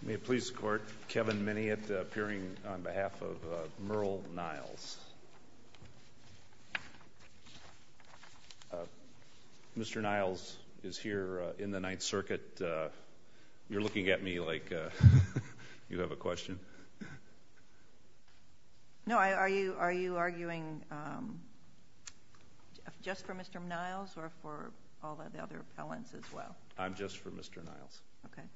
May it please the Court, Kevin Minniot appearing on behalf of Merle Niles. Mr. Niles is here in the Ninth Circuit. You're looking at me like you have a question. No, are you arguing just for Mr. Niles or for all of the other appellants as well? I'm just for Mr. Niles. Okay.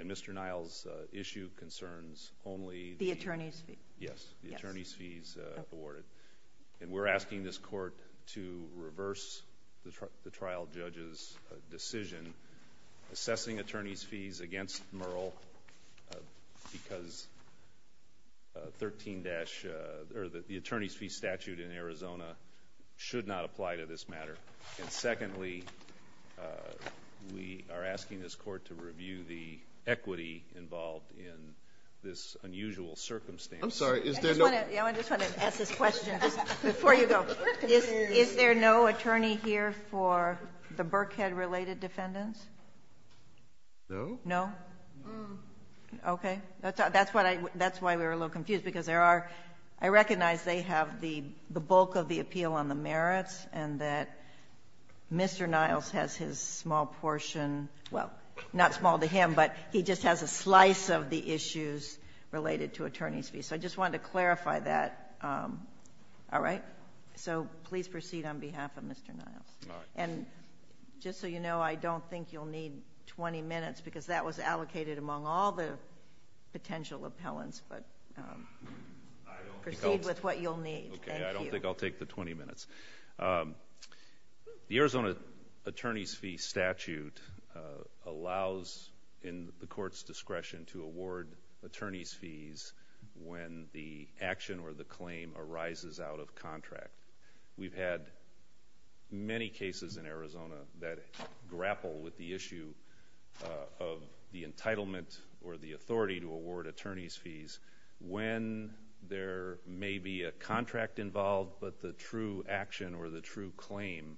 And Mr. Niles' issue concerns only the attorney's fees. Yes, the attorney's fees awarded. And we're asking this Court to reverse the trial judge's decision assessing attorney's fees against Merle because the attorney's fee statute in Arizona should not apply to this matter. And secondly, we are asking this Court to review the equity involved in this unusual circumstance. I'm sorry. I just want to ask this question before you go. Is there no attorney here for the Burkhead-related defendants? No. No? No. Okay. That's why we were a little confused because there are – I recognize they have the bulk of the appeal on the merits and that Mr. Niles has his small portion – well, not small to him, but he just has a slice of the issues related to attorney's fees. So I just wanted to clarify that. All right? So please proceed on behalf of Mr. Niles. And just so you know, I don't think you'll need 20 minutes because that was allocated among all the potential appellants, but proceed with what you'll need. Okay. I don't think I'll take the 20 minutes. The Arizona attorney's fee statute allows in the Court's discretion to award attorney's fees when the action or the claim arises out of contract. We've had many cases in Arizona that grapple with the issue of the entitlement or the authority to award attorney's fees when there may be a contract involved, but the true action or the true claim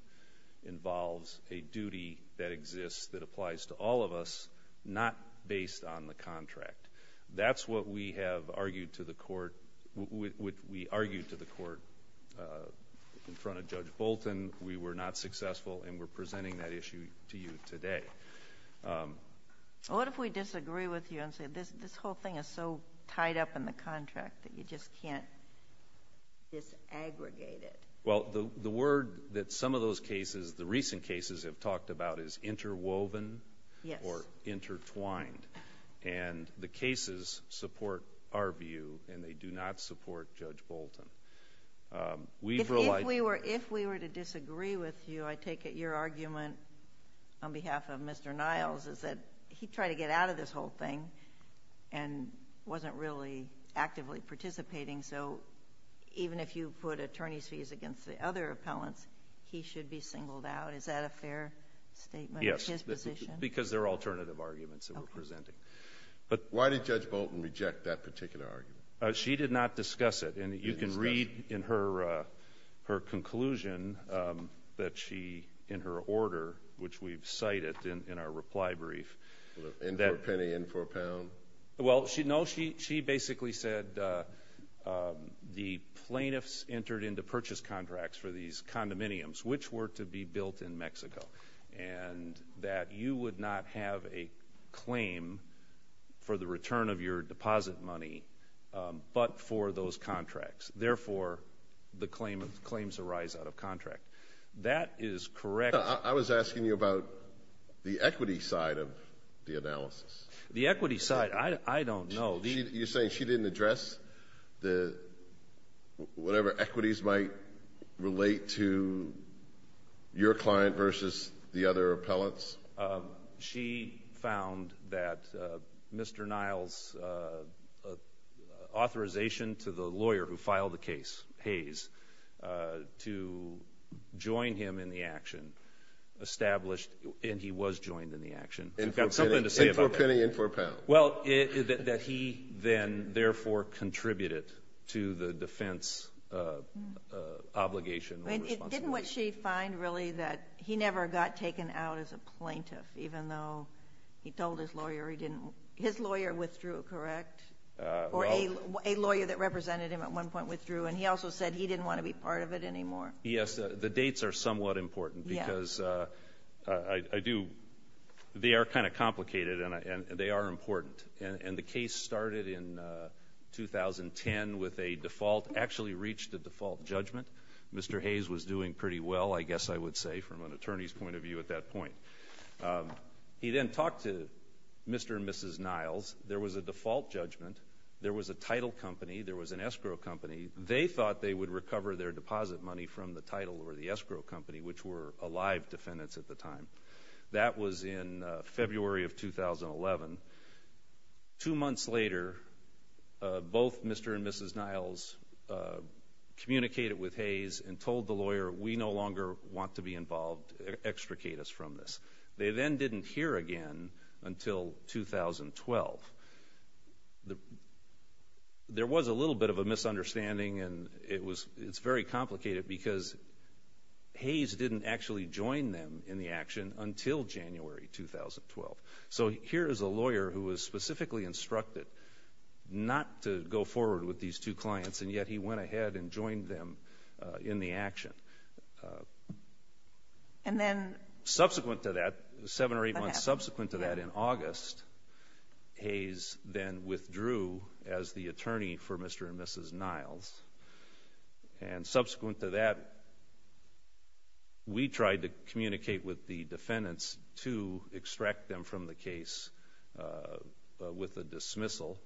involves a duty that exists that applies to all of us, not based on the contract. That's what we have argued to the Court – we argued to the Court in front of Judge Bolton. We were not successful, and we're presenting that issue to you today. What if we disagree with you and say this whole thing is so tied up in the contract that you just can't disaggregate it? Well, the word that some of those cases, the recent cases, have talked about is interwoven or intertwined. And the cases support our view, and they do not support Judge Bolton. If we were to disagree with you, I take it your argument on behalf of Mr. Niles is that he tried to get out of this whole thing and wasn't really actively participating. So even if you put attorney's fees against the other appellants, he should be singled out. Is that a fair statement of his position? Yes, because they're alternative arguments that we're presenting. Why did Judge Bolton reject that particular argument? She did not discuss it. And you can read in her conclusion that she – in her order, which we've cited in our reply brief. In for a penny, in for a pound? Well, no, she basically said the plaintiffs entered into purchase contracts for these condominiums, which were to be built in Mexico, and that you would not have a claim for the return of your deposit money but for those contracts. Therefore, the claims arise out of contract. That is correct. I was asking you about the equity side of the analysis. The equity side, I don't know. You're saying she didn't address the – whatever equities might relate to your client versus the other appellants? She found that Mr. Niles' authorization to the lawyer who filed the case, Hayes, to join him in the action established – and he was joined in the action. You've got something to say about that. In for a penny, in for a pound. Well, that he then therefore contributed to the defense obligation or responsibility. But isn't what she finds really that he never got taken out as a plaintiff, even though he told his lawyer he didn't – his lawyer withdrew, correct? Or a lawyer that represented him at one point withdrew, and he also said he didn't want to be part of it anymore? Yes, the dates are somewhat important because I do – they are kind of complicated, and they are important. And the case started in 2010 with a default – actually reached a default judgment. Mr. Hayes was doing pretty well, I guess I would say, from an attorney's point of view at that point. He then talked to Mr. and Mrs. Niles. There was a default judgment. There was a title company. There was an escrow company. They thought they would recover their deposit money from the title or the escrow company, which were alive defendants at the time. That was in February of 2011. Two months later, both Mr. and Mrs. Niles communicated with Hayes and told the lawyer we no longer want to be involved. Extricate us from this. They then didn't hear again until 2012. There was a little bit of a misunderstanding, and it's very complicated because Hayes didn't actually join them in the action until January 2012. So here is a lawyer who was specifically instructed not to go forward with these two clients, and yet he went ahead and joined them in the action. Subsequent to that, seven or eight months subsequent to that in August, Hayes then withdrew as the attorney for Mr. and Mrs. Niles. And subsequent to that, we tried to communicate with the defendants to extract them from the case with a dismissal,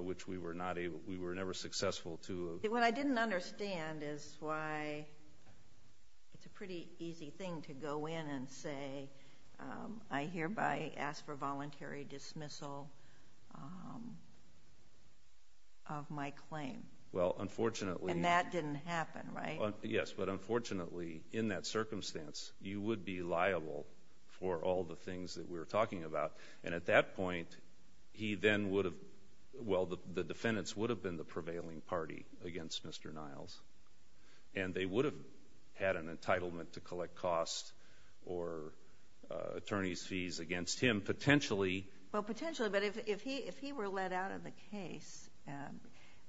which we were never successful to. What I didn't understand is why it's a pretty easy thing to go in and say, I hereby ask for voluntary dismissal of my claim. And that didn't happen, right? Yes, but unfortunately, in that circumstance, you would be liable for all the things that we were talking about. And at that point, he then would have – well, the defendants would have been the prevailing party against Mr. Niles, and they would have had an entitlement to collect costs or attorney's fees against him, potentially. Well, potentially, but if he were let out of the case,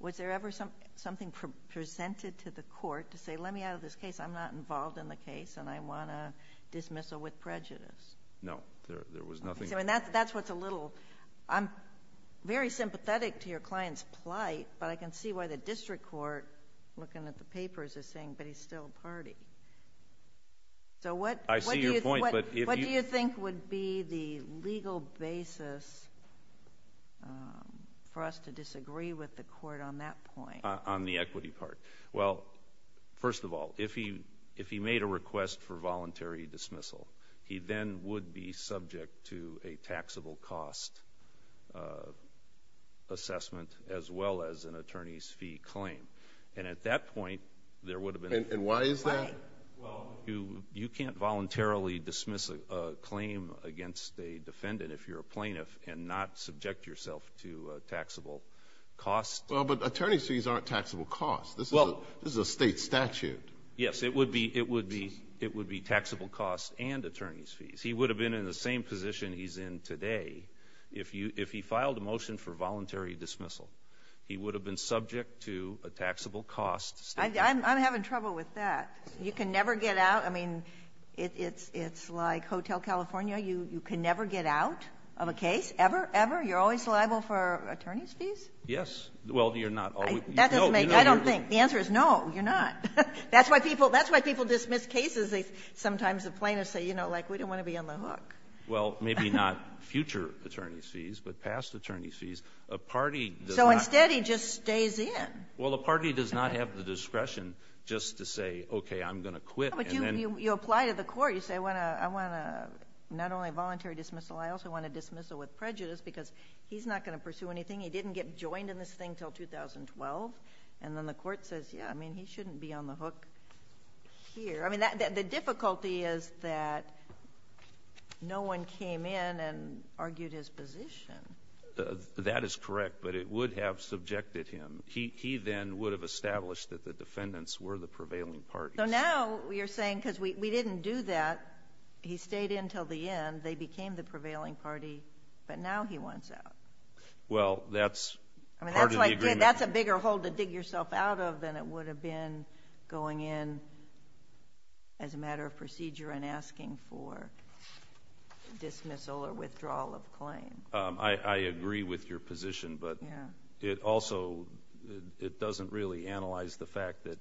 was there ever something presented to the court to say, let me out of this case, I'm not involved in the case, and I want a dismissal with prejudice? No, there was nothing. So that's what's a little – I'm very sympathetic to your client's plight, but I can see why the district court, looking at the papers, is saying, but he's still a party. So what do you think would be the legal basis for us to disagree with the court on that point? On the equity part. Well, first of all, if he made a request for voluntary dismissal, he then would be subject to a taxable cost assessment as well as an attorney's fee claim. And at that point, there would have been – And why is that? Well, you can't voluntarily dismiss a claim against a defendant if you're a plaintiff and not subject yourself to taxable costs. Well, but attorney's fees aren't taxable costs. This is a state statute. Yes, it would be – it would be taxable costs and attorney's fees. He would have been in the same position he's in today if you – if he filed a motion for voluntary dismissal. He would have been subject to a taxable cost. I'm having trouble with that. You can never get out. I mean, it's like Hotel California. You can never get out of a case, ever, ever. You're always liable for attorney's fees? Yes. Well, you're not always. That doesn't make – I don't think. The answer is no, you're not. That's why people – that's why people dismiss cases. Sometimes the plaintiffs say, you know, like, we don't want to be on the hook. Well, maybe not future attorney's fees, but past attorney's fees. A party does not – So instead, he just stays in. Well, the party does not have the discretion just to say, okay, I'm going to quit and then – But you apply to the court. You say, I want to – I want to not only voluntary dismissal, I also want to dismissal with prejudice because he's not going to pursue anything. He didn't get joined in this thing until 2012. And then the court says, yeah, I mean, he shouldn't be on the hook here. I mean, the difficulty is that no one came in and argued his position. That is correct, but it would have subjected him. He then would have established that the defendants were the prevailing parties. So now you're saying because we didn't do that, he stayed in until the end, they became the prevailing party, but now he wants out. Well, that's part of the agreement. I mean, that's like – that's a bigger hole to dig yourself out of than it would have been going in as a matter of procedure and asking for dismissal or withdrawal of claim. I agree with your position, but it also – it doesn't really analyze the fact that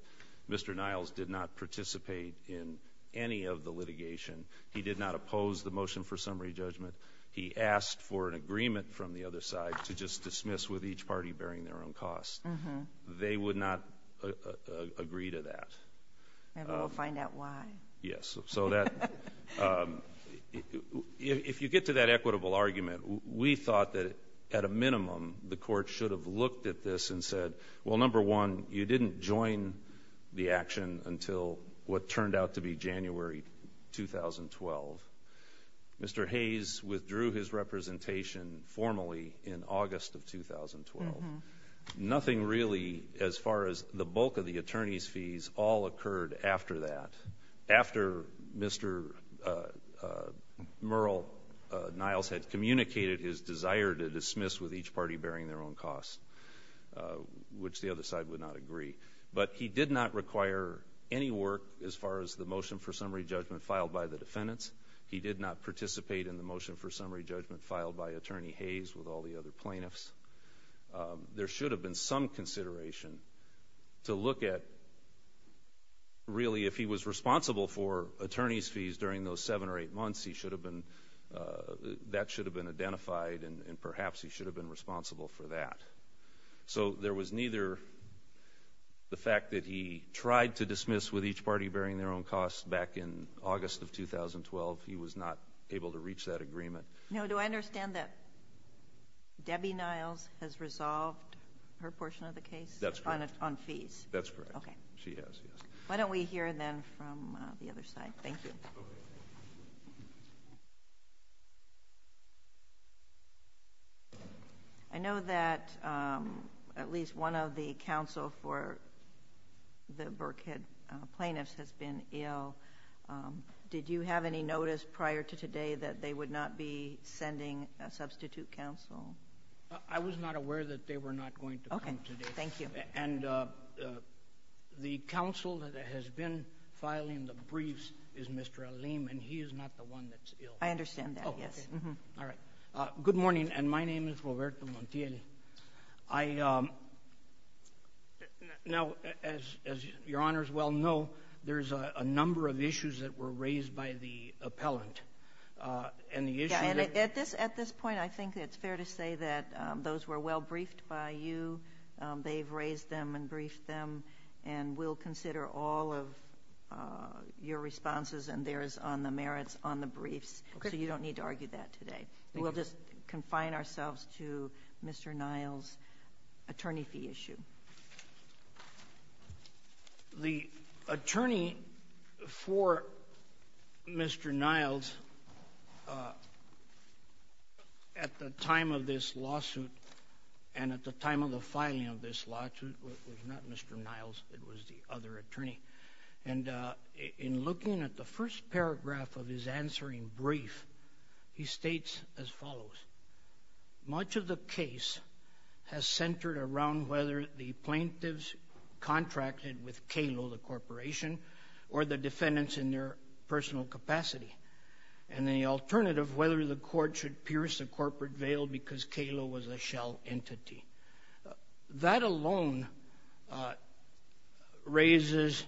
Mr. Niles did not participate in any of the litigation. He did not oppose the motion for summary judgment. He asked for an agreement from the other side to just dismiss with each party bearing their own cost. They would not agree to that. Maybe we'll find out why. Yes. So that – if you get to that equitable argument, we thought that at a minimum the court should have looked at this and said, well, number one, you didn't join the action until what turned out to be January 2012. Mr. Hayes withdrew his representation formally in August of 2012. Nothing really, as far as the bulk of the attorney's fees, all occurred after that, after Mr. Merle Niles had communicated his desire to dismiss with each party bearing their own cost, which the other side would not agree. But he did not require any work as far as the motion for summary judgment filed by the defendants. He did not participate in the motion for summary judgment filed by Attorney Hayes with all the other plaintiffs. There should have been some consideration to look at really if he was responsible for attorney's fees during those seven or eight months. He should have been – that should have been identified, and perhaps he should have been responsible for that. So there was neither the fact that he tried to dismiss with each party bearing their own cost back in August of 2012. He was not able to reach that agreement. No. Do I understand that Debbie Niles has resolved her portion of the case? That's correct. On fees? That's correct. Okay. She has, yes. Why don't we hear then from the other side? Thank you. I know that at least one of the counsel for the Burkhead plaintiffs has been ill. Did you have any notice prior to today that they would not be sending a substitute counsel? I was not aware that they were not going to come today. Okay. Thank you. And the counsel that has been filing the briefs is Mr. Aleem, and he is not the one that's ill. I understand that, yes. Okay. All right. Good morning, and my name is Roberto Montiel. I – now, as Your Honors well know, there's a number of issues that were raised by the appellant, and the issue that – Yeah, and at this point I think it's fair to say that those were well briefed by you. They've raised them and briefed them, and we'll consider all of your responses and theirs on the merits on the briefs. Okay. So you don't need to argue that today. We'll just confine ourselves to Mr. Niles' attorney fee issue. The attorney for Mr. Niles at the time of this lawsuit and at the time of the filing of this lawsuit was not Mr. Niles. It was the other attorney. And in looking at the first paragraph of his answering brief, he states as follows. Much of the case has centered around whether the plaintiffs contracted with KALO, the corporation, or the defendants in their personal capacity, and the alternative, whether the court should pierce the corporate veil because KALO was a shell entity. That alone raises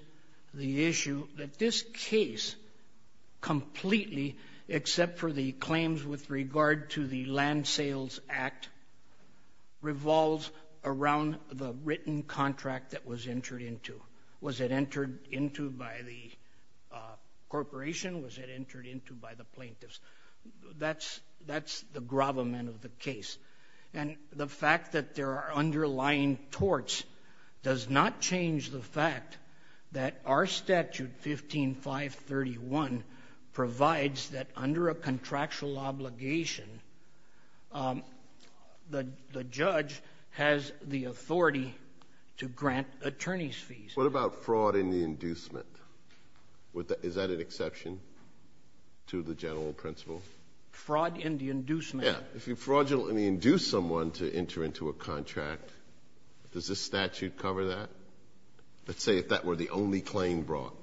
the issue that this case completely, except for the claims with regard to the Land Sales Act, revolves around the written contract that was entered into. Was it entered into by the corporation? Was it entered into by the plaintiffs? That's the gravamen of the case. And the fact that there are underlying torts does not change the fact that our statute, 15531, provides that under a contractual obligation, the judge has the authority to grant attorneys' fees. What about fraud in the inducement? Is that an exception to the general principle? Fraud in the inducement. Yes. If you fraudulently induce someone to enter into a contract, does the statute cover that? Let's say if that were the only claim brought.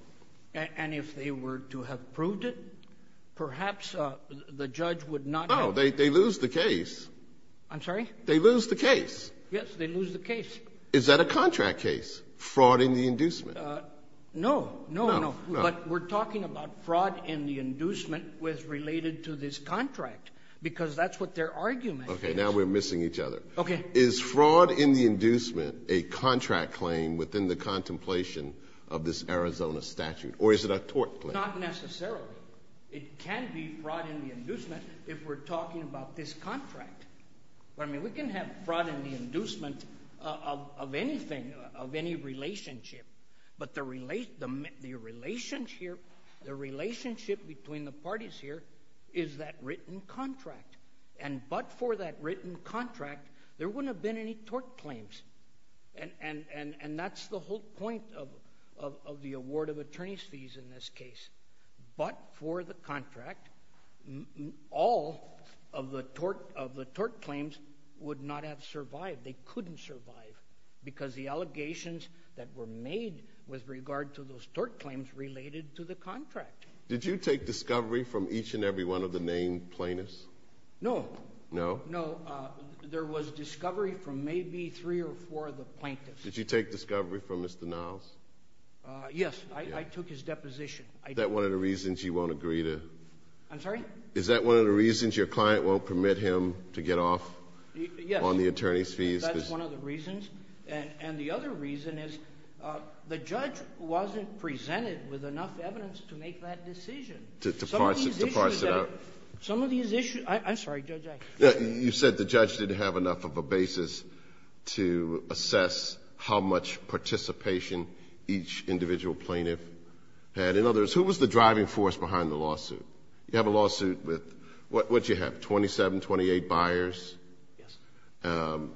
And if they were to have proved it, perhaps the judge would not have to prove it. No. They lose the case. I'm sorry? They lose the case. Yes. They lose the case. Is that a contract case, fraud in the inducement? No. No. No. Because that's what their argument is. Okay. Now we're missing each other. Okay. Is fraud in the inducement a contract claim within the contemplation of this Arizona statute? Or is it a tort claim? Not necessarily. It can be fraud in the inducement if we're talking about this contract. I mean, we can have fraud in the inducement of anything, of any relationship. But the relationship between the parties here is that written contract. And but for that written contract, there wouldn't have been any tort claims. And that's the whole point of the award of attorney's fees in this case. But for the contract, all of the tort claims would not have survived. They couldn't survive. Because the allegations that were made with regard to those tort claims related to the contract. Did you take discovery from each and every one of the named plaintiffs? No. No? No. There was discovery from maybe three or four of the plaintiffs. Did you take discovery from Mr. Niles? Yes. I took his deposition. Is that one of the reasons you won't agree to? I'm sorry? Is that one of the reasons your client won't permit him to get off on the attorney's fees? That's one of the reasons. And the other reason is the judge wasn't presented with enough evidence to make that decision. To parse it out. Some of these issues that he – I'm sorry, Judge. You said the judge didn't have enough of a basis to assess how much participation each individual plaintiff had. In other words, who was the driving force behind the lawsuit? You have a lawsuit with, what did you have, 27, 28 buyers? Yes.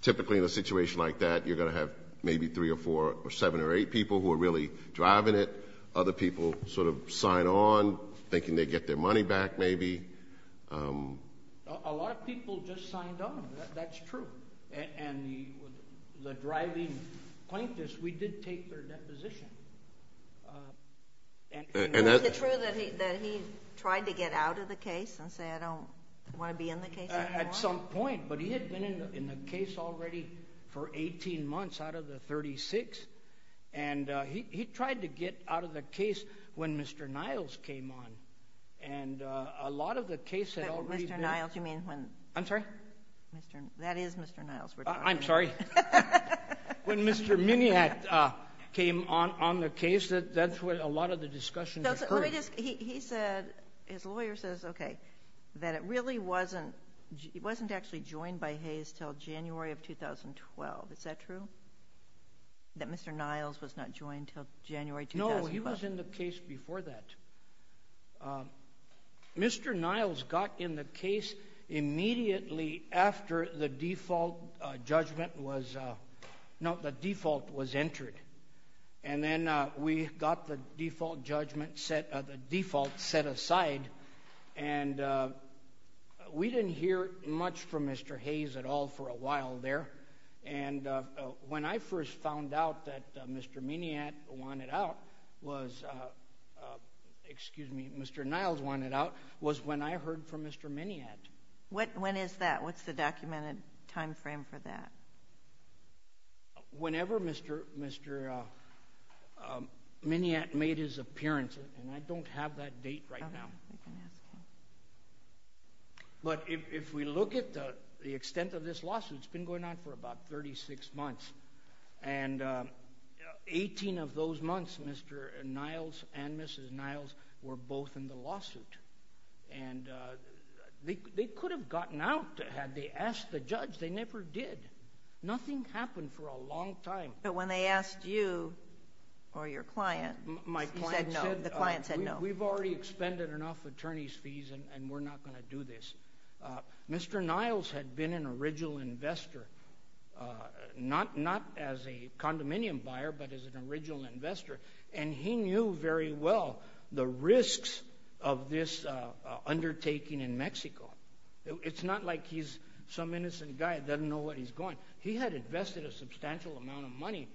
Typically in a situation like that, you're going to have maybe three or four or seven or eight people who are really driving it. Other people sort of sign on thinking they get their money back maybe. A lot of people just signed on. That's true. And the driving plaintiffs, we did take their deposition. Is it true that he tried to get out of the case and say, I don't want to be in the case anymore? At some point. But he had been in the case already for 18 months out of the 36. And he tried to get out of the case when Mr. Niles came on. And a lot of the case had already been – Mr. Niles, you mean when – I'm sorry? That is Mr. Niles we're talking about. I'm sorry. When Mr. Miniat came on the case, that's when a lot of the discussions occurred. Let me just – he said, his lawyer says, okay, that it really wasn't – it wasn't actually joined by Hayes until January of 2012. Is that true? That Mr. Niles was not joined until January 2012? No, he was in the case before that. Mr. Niles got in the case immediately after the default judgment was – no, the default was entered. And then we got the default judgment set – the default set aside. And we didn't hear much from Mr. Hayes at all for a while there. And when I first found out that Mr. Miniat wanted out was – excuse me, Mr. Niles wanted out was when I heard from Mr. Miniat. When is that? What's the documented timeframe for that? Whenever Mr. Miniat made his appearance, and I don't have that date right now. But if we look at the extent of this lawsuit, it's been going on for about 36 months. And 18 of those months, Mr. Niles and Mrs. Niles were both in the lawsuit. And they could have gotten out had they asked the judge. They never did. Nothing happened for a long time. But when they asked you or your client, you said no. The client said no. We've already expended enough attorney's fees, and we're not going to do this. Mr. Niles had been an original investor, not as a condominium buyer, but as an original investor. And he knew very well the risks of this undertaking in Mexico. It's not like he's some innocent guy that doesn't know where he's going. He had invested a substantial amount of money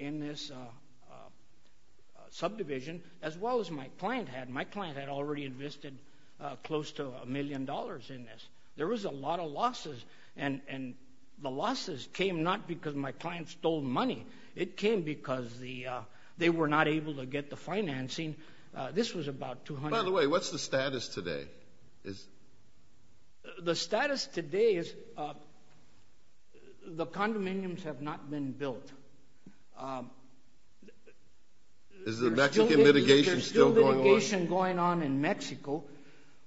in this subdivision as well as my client had. My client had already invested close to a million dollars in this. There was a lot of losses, and the losses came not because my client stole money. It came because they were not able to get the financing. This was about 200. By the way, what's the status today? The status today is the condominiums have not been built. Is the Mexican litigation still going on? There's still litigation going on in Mexico.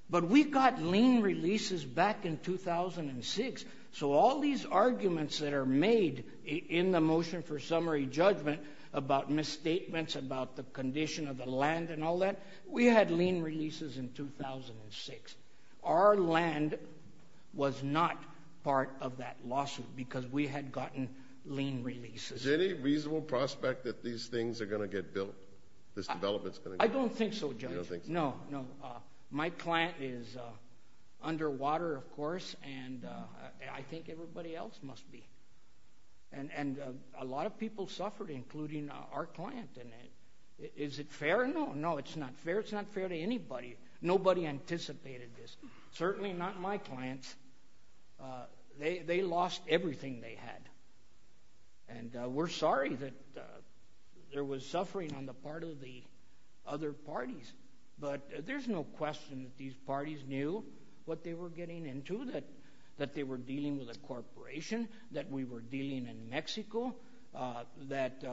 But we got lien releases back in 2006. So all these arguments that are made in the motion for summary judgment about misstatements, about the condition of the land and all that, we had lien releases in 2006. Our land was not part of that lawsuit because we had gotten lien releases. Is there any reasonable prospect that these things are going to get built, this development's going to get built? I don't think so, Judge. You don't think so? No, no. My client is underwater, of course, and I think everybody else must be. And a lot of people suffered, including our client. Is it fair? No, no, it's not fair. It's not fair to anybody. Nobody anticipated this, certainly not my clients. They lost everything they had. And we're sorry that there was suffering on the part of the other parties. But there's no question that these parties knew what they were getting into, that they were dealing with a corporation, that we were dealing in Mexico, that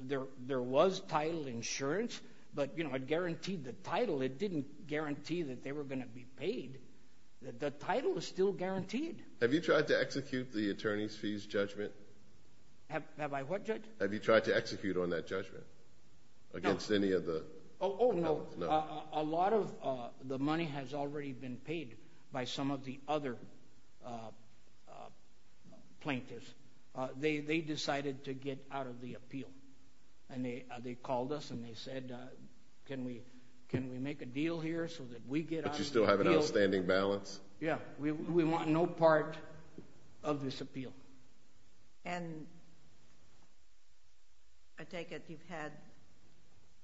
there was title insurance. But, you know, it guaranteed the title. It didn't guarantee that they were going to be paid. The title is still guaranteed. Have you tried to execute the attorney's fees judgment? Have I what, Judge? Have you tried to execute on that judgment against any of the others? Oh, no. A lot of the money has already been paid by some of the other plaintiffs. They decided to get out of the appeal. And they called us and they said, can we make a deal here so that we get out of the appeal? But you still have an outstanding balance? Yeah. We want no part of this appeal. And I take it you've had,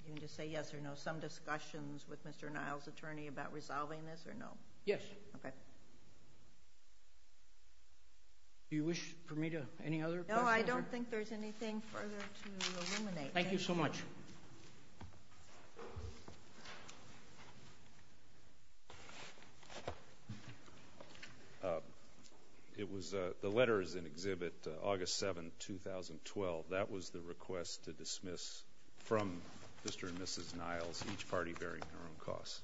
you can just say yes or no, some discussions with Mr. Niles' attorney about resolving this or no? Yes. Okay. Do you wish for me to, any other questions? No, I don't think there's anything further to eliminate. Thank you so much. Thank you. It was the letters in Exhibit August 7, 2012, that was the request to dismiss from Mr. and Mrs. Niles each party bearing their own costs.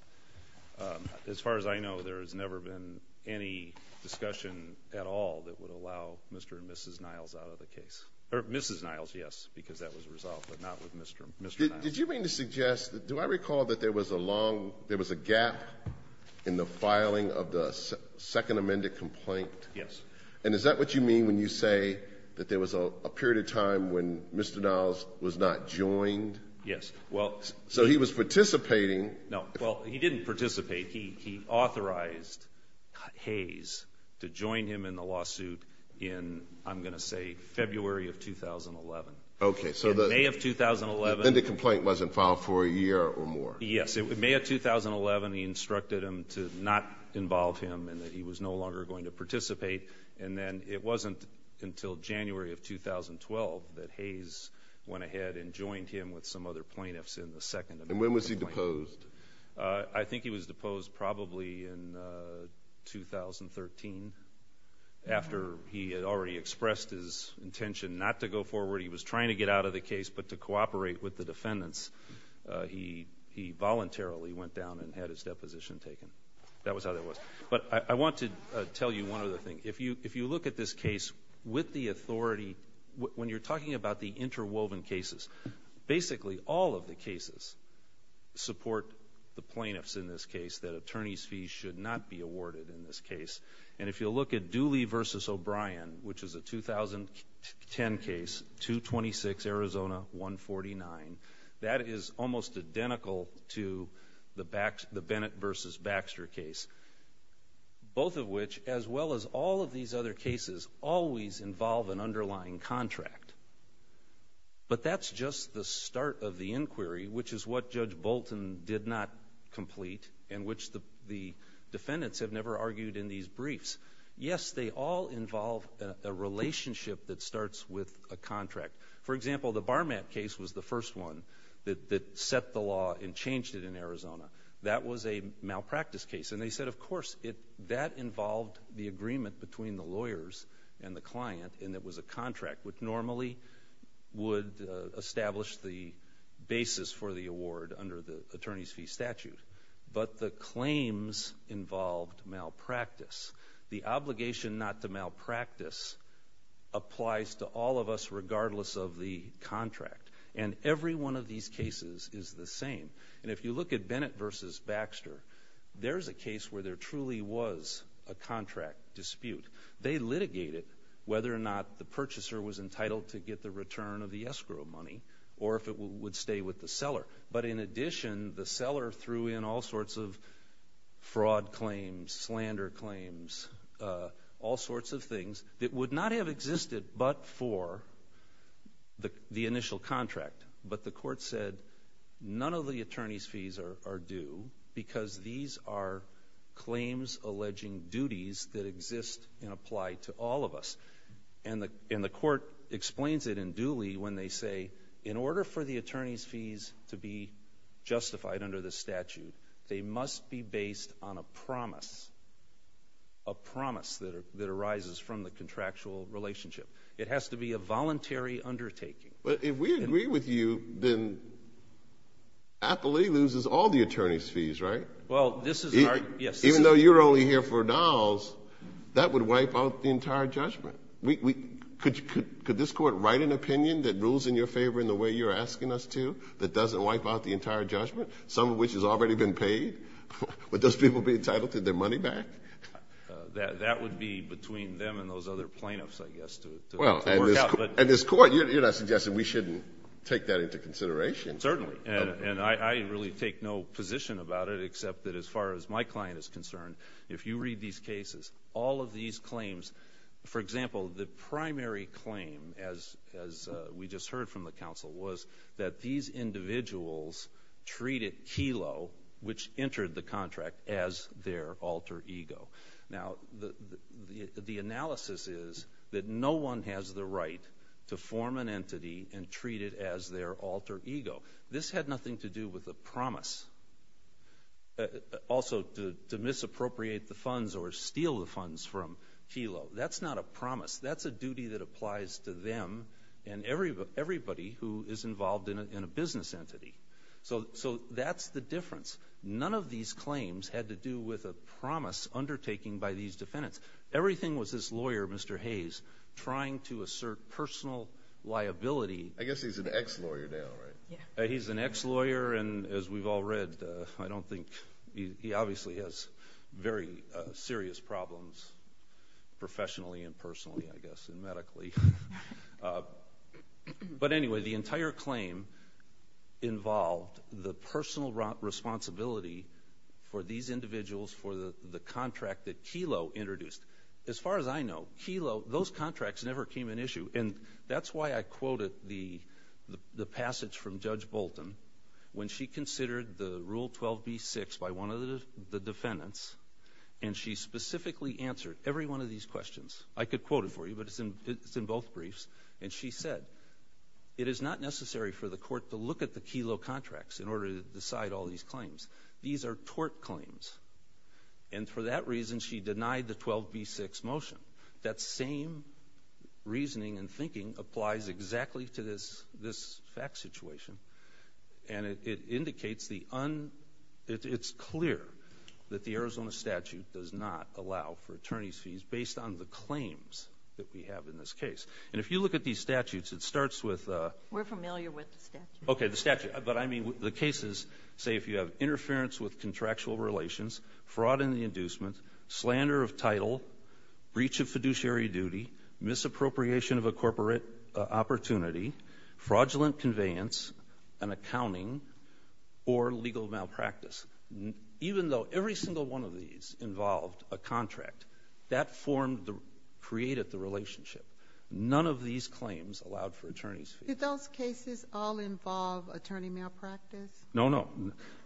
As far as I know, there has never been any discussion at all that would allow Mr. and Mrs. Niles out of the case. Mrs. Niles, yes, because that was resolved, but not with Mr. Niles. Did you mean to suggest, do I recall that there was a long, there was a gap in the filing of the second amended complaint? Yes. And is that what you mean when you say that there was a period of time when Mr. Niles was not joined? Yes. So he was participating. No. Well, he didn't participate. He authorized Hayes to join him in the lawsuit in, I'm going to say, February of 2011. Okay. In May of 2011. Then the complaint wasn't filed for a year or more. Yes. In May of 2011, he instructed him to not involve him and that he was no longer going to participate. And then it wasn't until January of 2012 that Hayes went ahead and joined him with some other plaintiffs in the second amended complaint. And when was he deposed? I think he was deposed probably in 2013, after he had already expressed his intention not to go forward. He was trying to get out of the case, but to cooperate with the defendants, he voluntarily went down and had his deposition taken. That was how that was. But I want to tell you one other thing. If you look at this case with the authority, when you're talking about the interwoven cases, basically all of the cases support the plaintiffs in this case, that attorneys' fees should not be awarded in this case. And if you look at Dooley v. O'Brien, which is a 2010 case, 226 Arizona, 149, that is almost identical to the Bennett v. Baxter case, both of which, as well as all of these other cases, always involve an underlying contract. But that's just the start of the inquiry, which is what Judge Bolton did not complete and which the defendants have never argued in these briefs. Yes, they all involve a relationship that starts with a contract. For example, the Barmack case was the first one that set the law and changed it in Arizona. That was a malpractice case. And they said, of course, that involved the agreement between the lawyers and the client, and it was a contract, which normally would establish the basis for the award under the attorneys' fee statute. But the claims involved malpractice. The obligation not to malpractice applies to all of us, regardless of the contract. And every one of these cases is the same. And if you look at Bennett v. Baxter, there's a case where there truly was a contract dispute. They litigated whether or not the purchaser was entitled to get the return of the escrow money or if it would stay with the seller. But in addition, the seller threw in all sorts of fraud claims, slander claims, all sorts of things that would not have existed but for the initial contract. But the court said none of the attorneys' fees are due because these are claims alleging duties that exist and apply to all of us. And the court explains it in Dooley when they say, in order for the attorneys' fees to be justified under the statute, they must be based on a promise, a promise that arises from the contractual relationship. It has to be a voluntary undertaking. But if we agree with you, then Appley loses all the attorneys' fees, right? Even though you're only here for dolls, that would wipe out the entire judgment. Could this court write an opinion that rules in your favor in the way you're asking us to that doesn't wipe out the entire judgment, some of which has already been paid? Would those people be entitled to their money back? That would be between them and those other plaintiffs, I guess, to work out. And this Court, you're not suggesting we shouldn't take that into consideration. Certainly. And I really take no position about it, except that as far as my client is concerned, if you read these cases, all of these claims, for example, the primary claim, as we just heard from the counsel, was that these individuals treated Kelo, which entered the contract, as their alter ego. Now, the analysis is that no one has the right to form an entity and treat it as their alter ego. This had nothing to do with a promise. Also, to misappropriate the funds or steal the funds from Kelo. That's not a promise. That's a duty that applies to them and everybody who is involved in a business entity. So that's the difference. None of these claims had to do with a promise undertaking by these defendants. Everything was this lawyer, Mr. Hayes, trying to assert personal liability. I guess he's an ex-lawyer now, right? He's an ex-lawyer, and as we've all read, I don't think he obviously has very serious problems, But anyway, the entire claim involved the personal responsibility for these individuals, for the contract that Kelo introduced. As far as I know, Kelo, those contracts never came in issue, and that's why I quoted the passage from Judge Bolton when she considered the Rule 12b-6 by one of the defendants, and she specifically answered every one of these questions. I could quote it for you, but it's in both briefs, and she said, It is not necessary for the court to look at the Kelo contracts in order to decide all these claims. These are tort claims. And for that reason, she denied the 12b-6 motion. That same reasoning and thinking applies exactly to this fact situation, and it indicates the un — it's clear that the Arizona statute does not allow for attorney's fees based on the claims that we have in this case. And if you look at these statutes, it starts with — We're familiar with the statute. Okay, the statute. But I mean the cases, say, if you have interference with contractual relations, fraud in the inducement, slander of title, breach of fiduciary duty, misappropriation of a corporate opportunity, fraudulent conveyance, an accounting, or legal malpractice, even though every single one of these involved a contract, that formed the — created the relationship. None of these claims allowed for attorney's fees. Did those cases all involve attorney malpractice? No, no.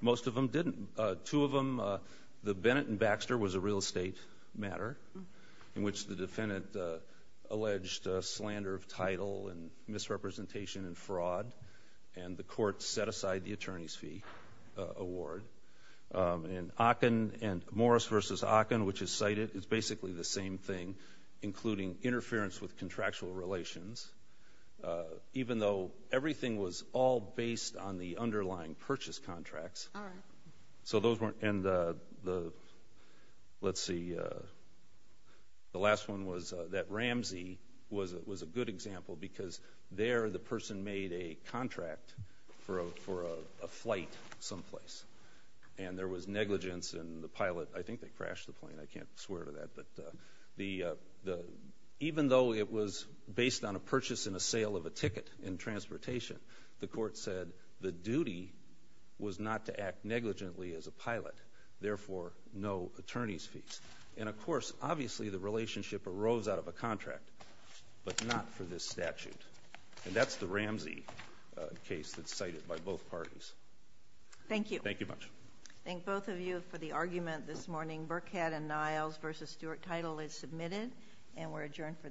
Most of them didn't. Two of them, the Bennett and Baxter was a real estate matter, in which the defendant alleged slander of title and misrepresentation and fraud, and the court set aside the attorney's fee award. And Ocken and Morris v. Ocken, which is cited, is basically the same thing, including interference with contractual relations, even though everything was all based on the underlying purchase contracts. All right. So those weren't — and the — let's see. The last one was that Ramsey was a good example, because there the person made a contract for a flight someplace, and there was negligence in the pilot. I think they crashed the plane. I can't swear to that. But even though it was based on a purchase and a sale of a ticket in transportation, the court said the duty was not to act negligently as a pilot, therefore no attorney's fees. And, of course, obviously the relationship arose out of a contract, but not for this statute. And that's the Ramsey case that's cited by both parties. Thank you. Thank you much. Thank both of you for the argument this morning. Burkett and Niles v. Stewart, title is submitted, and we're adjourned for the morning.